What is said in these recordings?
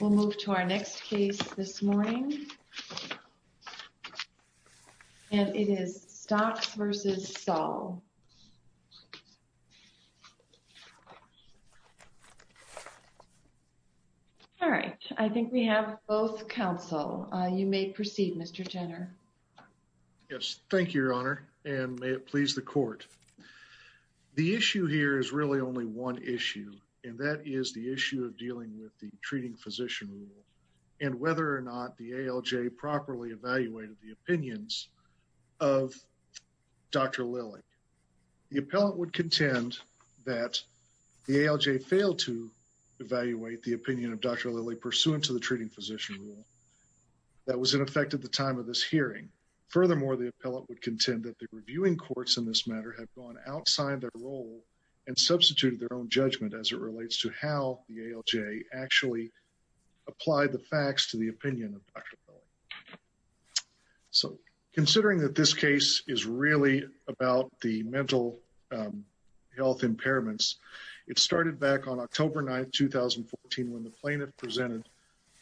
We'll move to our next case this morning, and it is Stocks v. Saul. All right, I think we have both counsel. You may proceed, Mr. Jenner. MR. JENNER Yes. Thank you, Your Honor, and may it please the Court. The issue here is really only one issue, and that is the issue of dealing with the treating physician rule and whether or not the ALJ properly evaluated the opinions of Dr. Lilly. The appellate would contend that the ALJ failed to evaluate the opinion of Dr. Lilly pursuant to the treating physician rule that was in effect at the time of this hearing. Furthermore, the appellate would contend that the reviewing courts in this matter have gone outside their role and substituted their own judgment as it relates to how the ALJ actually applied the facts to the opinion of Dr. Lilly. So considering that this case is really about the mental health impairments, it started back on October 9, 2014, when the plaintiff presented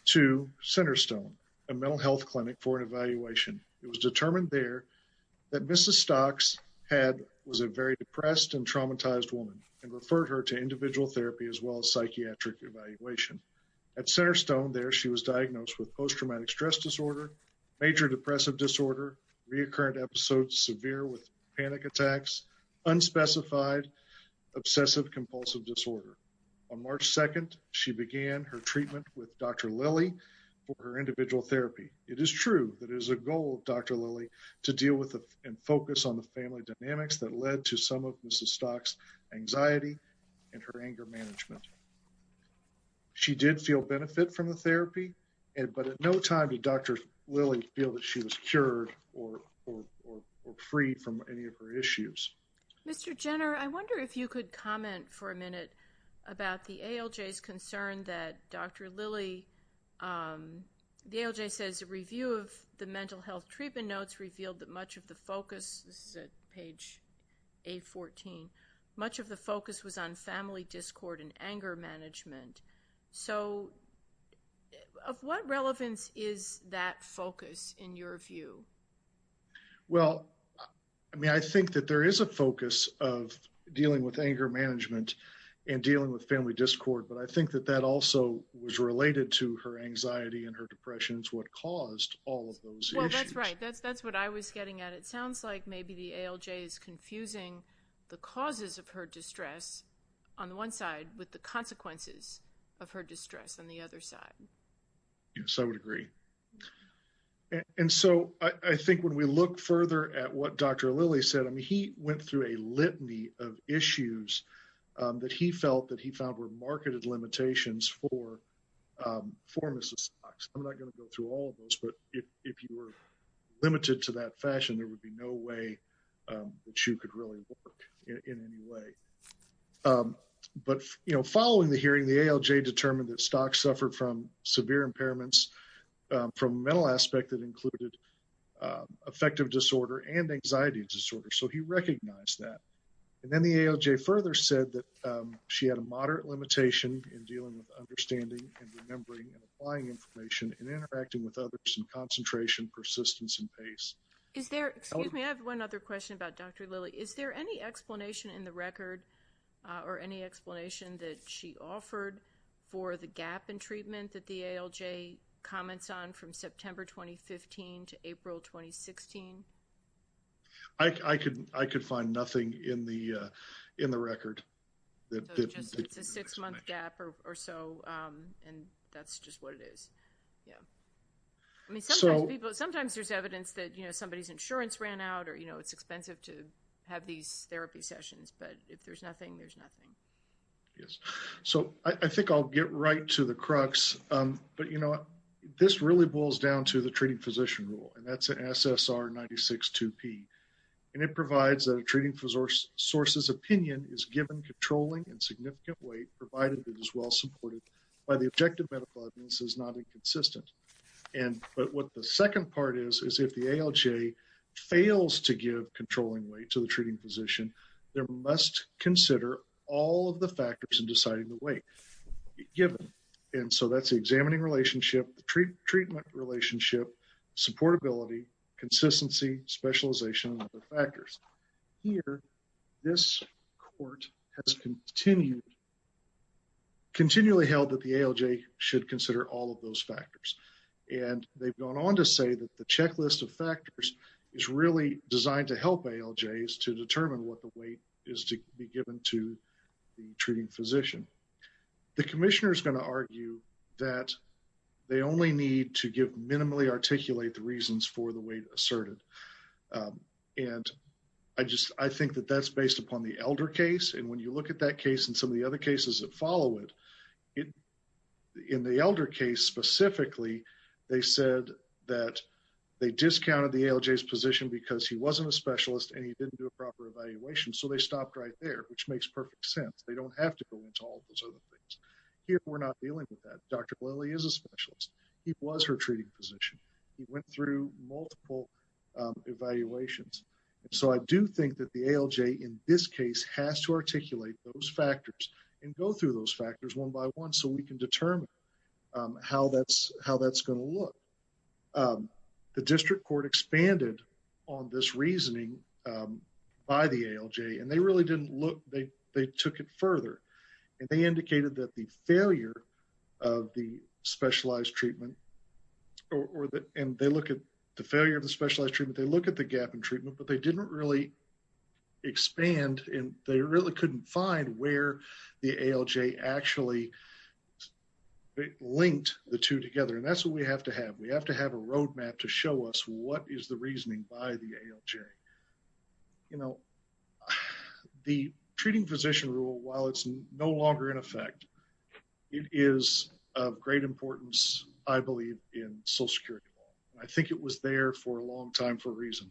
to Centerstone, a mental health clinic, for an evaluation. It was determined there that Mrs. Stocks was a very depressed and traumatized woman and referred her to individual therapy as well as psychiatric evaluation. At Centerstone there, she was diagnosed with post-traumatic stress disorder, major depressive disorder, reoccurring episodes severe with panic attacks, unspecified obsessive compulsive disorder. On March 2, she began her treatment with Dr. Lilly for her individual therapy. It is true that it is the goal of Dr. Lilly to deal with and focus on the family dynamics that led to some of Mrs. Stocks' anxiety and her anger management. She did feel benefit from the therapy, but at no time did Dr. Lilly feel that she was cured or freed from any of her issues. Mr. Jenner, I wonder if you could comment for a minute about the ALJ's concern that Dr. Lilly, the ALJ says a review of the mental health treatment notes revealed that much of the focus, this is at page A14, much of the focus was on family discord and anger management. So of what relevance is that focus in your view? Well, I mean, I think that there is a focus of dealing with anger management and dealing with family discord. But I think that that also was related to her anxiety and her depression is what caused all of those issues. Well, that's right. That's what I was getting at. It sounds like maybe the ALJ is confusing the causes of her distress on the one side with the consequences of her distress on the other side. Yes, I would agree. And so I think when we look further at what Dr. Lilly said, I mean, he went through a he found were marketed limitations for Mrs. Stocks. I'm not going to go through all of those, but if you were limited to that fashion, there would be no way that you could really work in any way. But following the hearing, the ALJ determined that Stocks suffered from severe impairments from a mental aspect that included affective disorder and anxiety disorder. So he recognized that. And then the ALJ further said that she had a moderate limitation in dealing with understanding and remembering and applying information and interacting with others in concentration, persistence and pace. Is there, excuse me, I have one other question about Dr. Lilly. Is there any explanation in the record or any explanation that she offered for the gap in treatment that the ALJ comments on from September 2015 to April 2016? I could find nothing in the record. So it's a six month gap or so, and that's just what it is. Yeah. I mean, sometimes people, sometimes there's evidence that, you know, somebody's insurance ran out or, you know, it's expensive to have these therapy sessions, but if there's nothing, there's nothing. Yes. So I think I'll get right to the crux, but you know what, this really boils down to the treating physician rule, and that's an SSR 96-2P, and it provides that a treating source's opinion is given controlling and significant weight provided it is well supported by the objective medical evidence is not inconsistent. And but what the second part is, is if the ALJ fails to give controlling weight to the treating physician, there must consider all of the factors in deciding the weight given. And so that's the examining relationship, the treatment relationship, supportability, consistency, specialization, and other factors. Here, this court has continued, continually held that the ALJ should consider all of those factors, and they've gone on to say that the checklist of factors is really designed to help ALJs to determine what the weight is to be given to the treating physician. The commissioner is going to argue that they only need to give, minimally articulate the reasons for the weight asserted. And I just, I think that that's based upon the Elder case, and when you look at that case and some of the other cases that follow it, in the Elder case specifically, they said that they discounted the ALJ's position because he wasn't a specialist and he didn't do a proper evaluation, so they stopped right there, which makes perfect sense. They don't have to go into all of those other things. Here, we're not dealing with that. Dr. Lilley is a specialist. He was her treating physician. He went through multiple evaluations. And so I do think that the ALJ, in this case, has to articulate those factors and go through those factors one by one so we can determine how that's going to look. The district court expanded on this reasoning by the ALJ, and they really didn't look, they took it further, and they indicated that the failure of the specialized treatment, and they look at the failure of the specialized treatment, they look at the gap in treatment, but they didn't really expand, and they really couldn't find where the ALJ actually linked the two together. And that's what we have to have. We have to have a roadmap to show us what is the reasoning by the ALJ. You know, the treating physician rule, while it's no longer in effect, it is of great importance, I believe, in Social Security law. I think it was there for a long time for a reason.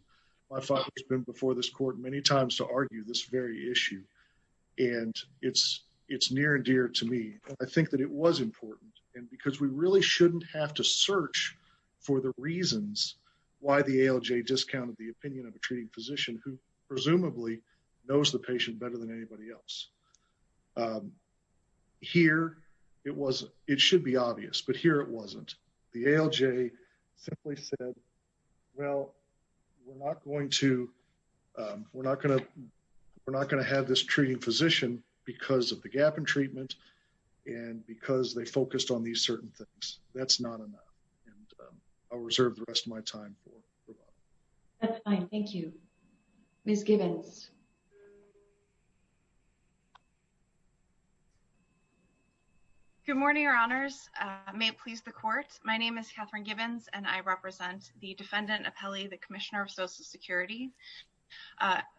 My father has been before this court many times to argue this very issue, and it's near and dear to me. I think that it was important, and because we really shouldn't have to search for the treating physician who presumably knows the patient better than anybody else. Here it was, it should be obvious, but here it wasn't. The ALJ simply said, well, we're not going to, we're not going to, we're not going to have this treating physician because of the gap in treatment, and because they focused on these certain things. That's not enough. And I'll reserve the rest of my time for Robyn. That's fine. Thank you. Ms. Gibbons. Good morning, Your Honors. May it please the Court. My name is Katherine Gibbons, and I represent the defendant, Apelli, the Commissioner of Social Security.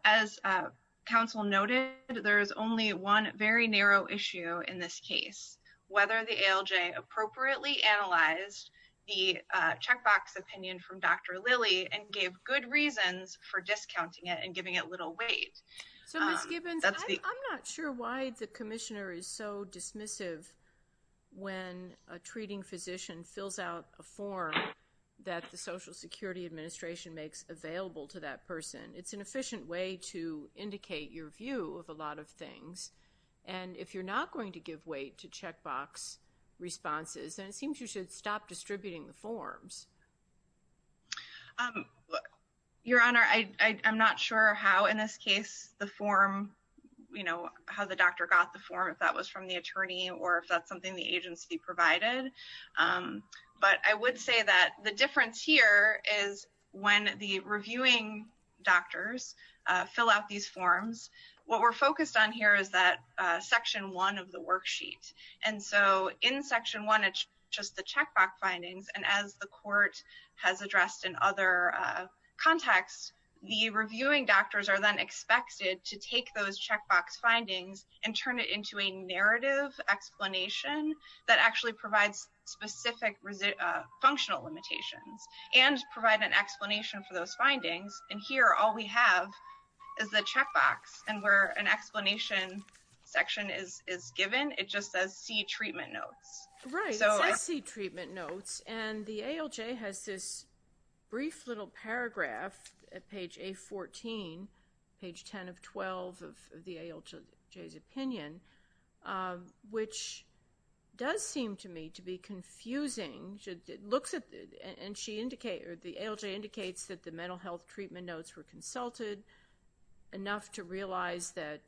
As counsel noted, there is only one very narrow issue in this case, whether the ALJ appropriately analyzed the checkbox opinion from Dr. Lilly and gave good reasons for discounting it and giving it little weight. So, Ms. Gibbons, I'm not sure why the Commissioner is so dismissive when a treating physician fills out a form that the Social Security Administration makes available to that person. It's an efficient way to indicate your view of a lot of things, and if you're not going to give weight to checkbox responses, then it seems you should stop distributing the forms. Your Honor, I'm not sure how, in this case, the form, you know, how the doctor got the form, if that was from the attorney or if that's something the agency provided. But I would say that the difference here is when the reviewing doctors fill out these And so, in Section 1, it's just the checkbox findings, and as the Court has addressed in other contexts, the reviewing doctors are then expected to take those checkbox findings and turn it into a narrative explanation that actually provides specific functional limitations and provide an explanation for those findings, and here, all we have is the checkbox and where an explanation section is given, it just says, see treatment notes. Right, it says, see treatment notes, and the ALJ has this brief little paragraph at page A14, page 10 of 12 of the ALJ's opinion, which does seem to me to be confusing. It looks at, and the ALJ indicates that the mental health treatment notes were consulted enough to realize that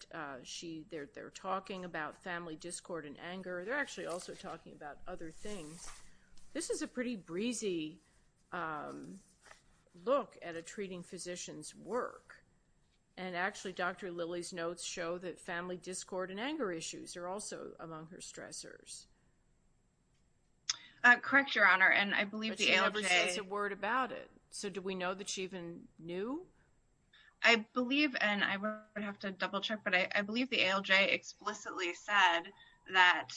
she, they're talking about family discord and anger. They're actually also talking about other things. This is a pretty breezy look at a treating physician's work, and actually, Dr. Lilly's notes show that family discord and anger issues are also among her stressors. Correct, Your Honor, and I believe the ALJ But she never says a word about it. So do we know that she even knew? I believe, and I would have to double check, but I believe the ALJ explicitly said that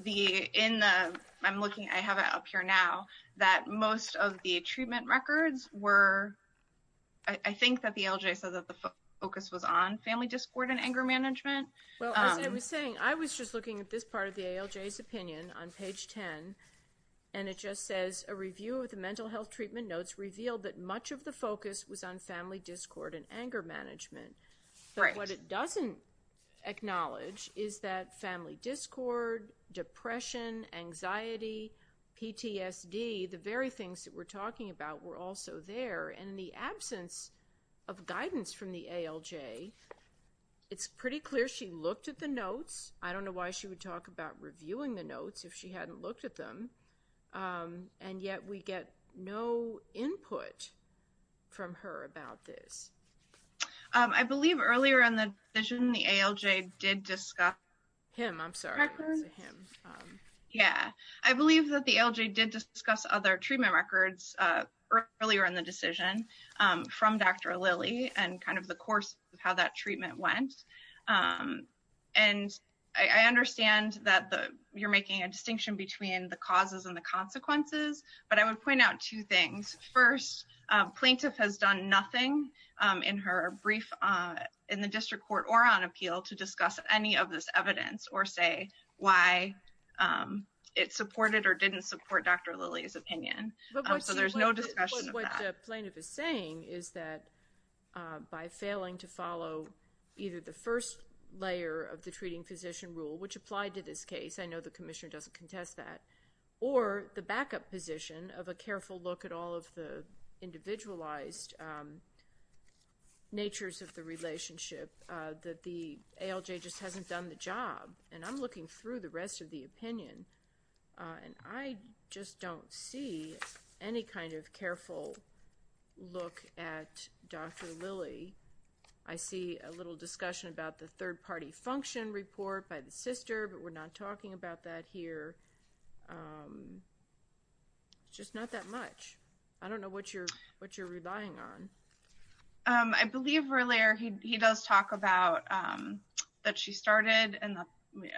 the, in the, I'm looking, I have it up here now, that most of the treatment records were, I think that the ALJ said that the focus was on family discord and anger management. Well, as I was saying, I was just looking at this part of the ALJ's opinion on page 10, and it just says, a review of the mental health treatment notes revealed that much of the focus was on family discord and anger management. Right. But what it doesn't acknowledge is that family discord, depression, anxiety, PTSD, the very things that we're talking about were also there, and in the absence of guidance from the ALJ, it's pretty clear she looked at the notes. I don't know why she would talk about reviewing the notes if she hadn't looked at them, and yet we get no input from her about this. I believe earlier in the decision, the ALJ did discuss, him, I'm sorry, it was him, yeah. I believe that the ALJ did discuss other treatment records earlier in the decision from Dr. Lilly and kind of the course of how that treatment went. And I understand that you're making a distinction between the causes and the consequences, but I would point out two things. First, plaintiff has done nothing in her brief in the district court or on appeal to discuss any of this evidence or say why it supported or didn't support Dr. Lilly's opinion. So there's no discussion of that. What the plaintiff is saying is that by failing to follow either the first layer of the treating physician rule, which applied to this case, I know the commissioner doesn't contest that, or the backup position of a careful look at all of the individualized natures of the relationship, that the ALJ just hasn't done the job. And I'm looking through the rest of the opinion and I just don't see any kind of careful look at Dr. Lilly. I see a little discussion about the third party function report by the sister, but we're not talking about that here. Just not that much. I don't know what you're relying on. I believe, Verlier, he does talk about that she started and,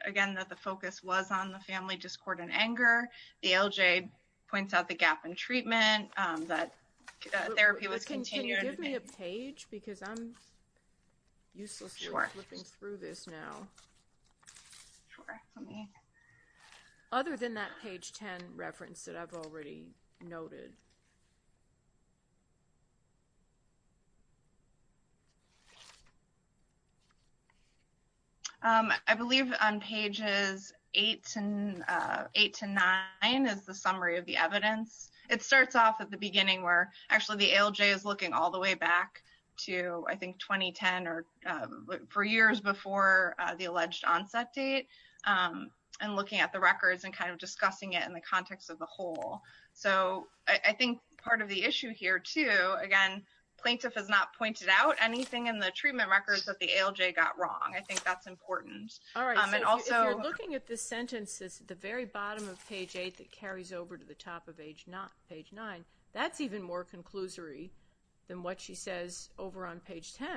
again, that the focus was on the family discord and anger. The ALJ points out the gap in treatment, that therapy was continued. Can you give me a page? Because I'm uselessly flipping through this now. Other than that page 10 reference that I've already noted. I believe on pages 8 to 9 is the summary of the evidence. It starts off at the beginning where actually the ALJ is looking all the way back to, I think, 2010 or four years before the alleged onset date and looking at the records and kind of discussing it in the context of the whole. So I think part of the issue here, too, again, plaintiff has not pointed out anything in the treatment records that the ALJ got wrong. I think that's important. All right. So if you're looking at this sentence, it's at the very bottom of page 8 that carries over to the top of page 9. That's even more conclusory than what she says over on page 10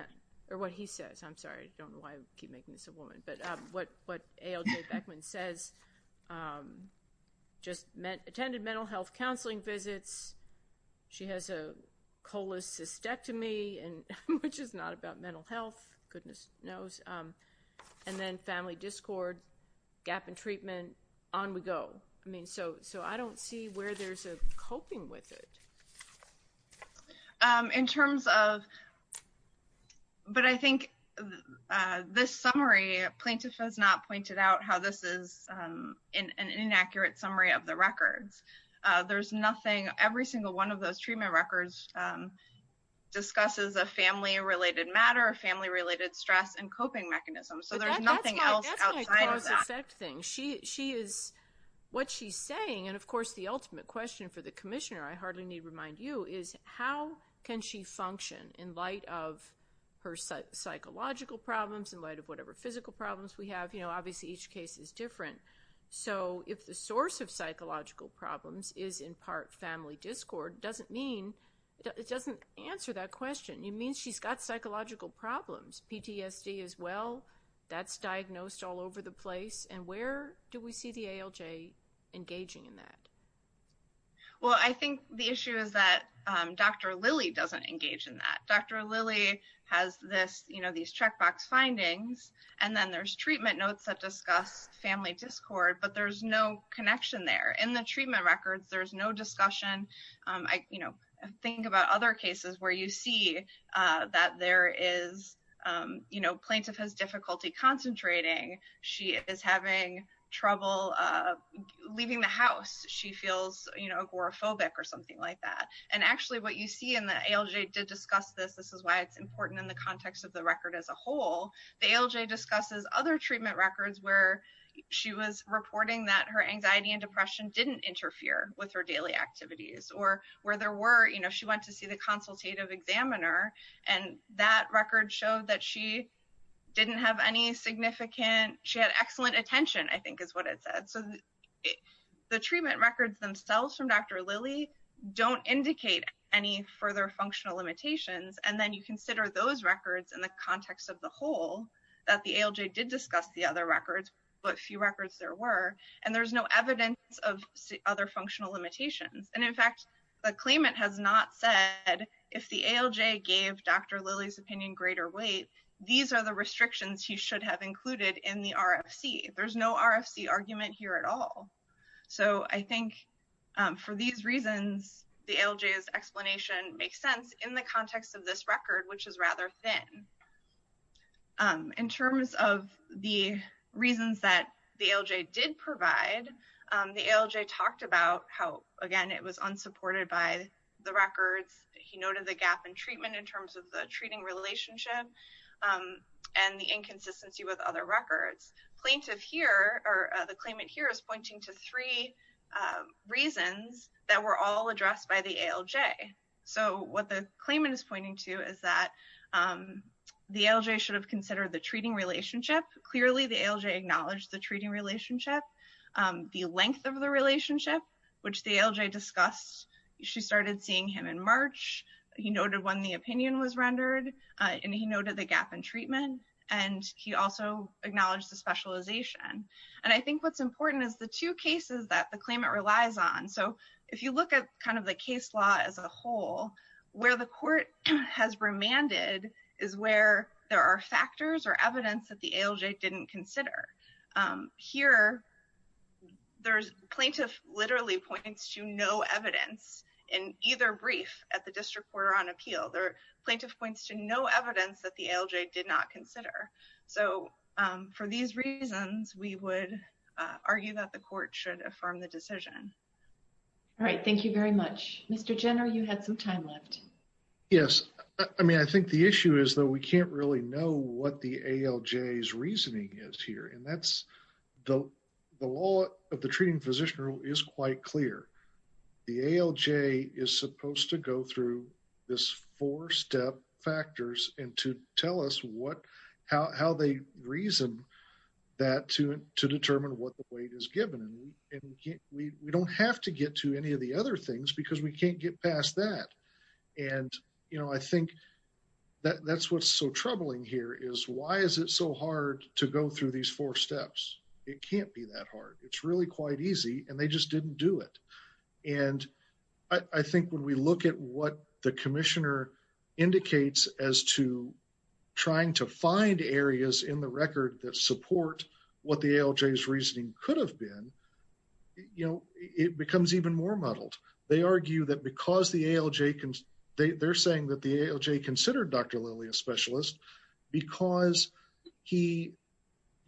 or what he says. I'm sorry. I don't know why I keep making this a woman. But what ALJ Beckman says, just attended mental health counseling visits. She has a cholecystectomy, which is not about mental health. Goodness knows. And then family discord, gap in treatment, on we go. I mean, so I don't see where there's a coping with it. In terms of, but I think this summary, plaintiff has not pointed out how this is an inaccurate summary of the records. There's nothing, every single one of those treatment records discusses a family-related matter, a family-related stress and coping mechanism. So there's nothing else outside of that. That's my close effect thing. She is, what she's saying, and of course, the ultimate question for the commissioner, I hardly need to remind you, is how can she function in light of her psychological problems, in light of whatever physical problems we have? Obviously, each case is different. So if the source of psychological problems is in part family discord, it doesn't mean, it doesn't answer that question. It means she's got psychological problems, PTSD as well. That's diagnosed all over the place. And where do we see the ALJ engaging in that? Well, I think the issue is that Dr. Lilly doesn't engage in that. Dr. Lilly has this, these checkbox findings, and then there's treatment notes that discuss family discord, but there's no connection there. In the treatment records, there's no discussion. Think about other cases where you see that there is, plaintiff has difficulty concentrating. She is having trouble leaving the house. She feels agoraphobic or something like that. And actually, what you see in the ALJ did discuss this. This is why it's important in the context of the record as a whole. The ALJ discusses other treatment records where she was reporting that her anxiety and depression didn't interfere with her daily activities, or where there were, you know, she went to see the consultative examiner, and that record showed that she didn't have any significant, she had excellent attention, I think is what it said. So the treatment records themselves from Dr. Lilly don't indicate any further functional limitations. And then you consider those records in the context of the whole, that the ALJ did discuss the other records, but few records there were, and there's no evidence of other functional limitations. And in fact, the claimant has not said, if the ALJ gave Dr. Lilly's opinion greater weight, these are the restrictions he should have included in the RFC. There's no RFC argument here at all. So I think for these reasons, the ALJ's explanation makes sense in the context of this record, which is rather thin. In terms of the reasons that the ALJ did provide, the ALJ talked about how, again, it was unsupported by the records. He noted the gap in treatment in terms of the treating relationship and the inconsistency with other records. Plaintiff here, or the claimant here is pointing to three reasons that were all addressed by the ALJ. So what the claimant is pointing to is that the ALJ should have considered the treating relationship. Clearly, the ALJ acknowledged the treating relationship, the length of the relationship, which the ALJ discussed. She started seeing him in March. He noted when the opinion was rendered, and he noted the gap in treatment. And he also acknowledged the specialization. And I think what's important is the two cases that the claimant relies on. So if you look at kind of the case law as a whole, where the court has remanded is where there are factors or evidence that the ALJ didn't consider. Here, plaintiff literally points to no evidence in either brief at the district court or on appeal. Plaintiff points to no evidence that the ALJ did not consider. So for these reasons, we would argue that the court should affirm the decision. All right, thank you very much. Mr. Jenner, you had some time left. Yes, I mean, I think the issue is that we can't really know what the ALJ's reasoning is here. And that's the law of the treating physician is quite clear. The ALJ is supposed to go through this four step factors and to tell us how they reason that to determine what the weight is given. And we don't have to get to any of the other things because we can't get past that. And I think that's what's so troubling here is why is it so hard to go through these four steps? It can't be that hard. It's really quite easy. And they just didn't do it. And I think when we look at what the commissioner indicates as to trying to find areas in the record that support what the ALJ's reasoning could have been, it becomes even more muddled. They argue that because the ALJ, they're saying that the ALJ considered Dr. Lilly a specialist because he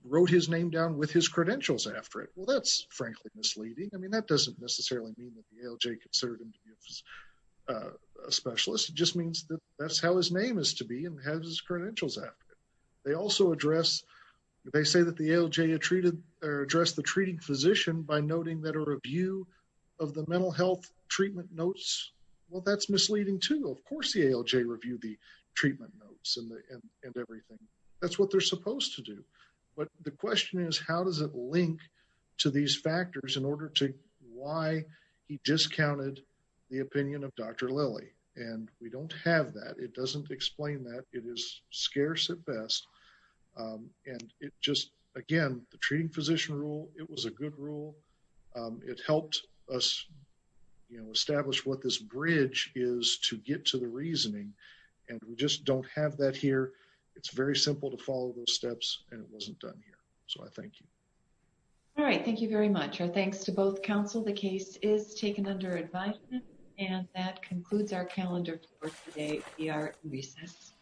wrote his name down with his credentials after it. Well, that's frankly misleading. That doesn't necessarily mean that the ALJ considered him to be a specialist. It just means that that's how his name is to be and has his credentials after it. They also address, they say that the ALJ addressed the treating physician by noting that a review of the mental health treatment notes, well, that's misleading too. Of course, the ALJ reviewed the treatment notes and everything. That's what they're supposed to do. But the question is, how does it link to these factors in order to why he discounted the opinion of Dr. Lilly? And we don't have that. It doesn't explain that. It is scarce at best. And it just, again, the treating physician rule, it was a good rule. It helped us establish what this bridge is to get to the reasoning. And we just don't have that here. It's very simple to follow those steps and it wasn't done here. So I thank you. All right. Thank you very much. Our thanks to both counsel. The case is taken under advisement. And that concludes our calendar for today. We are at recess.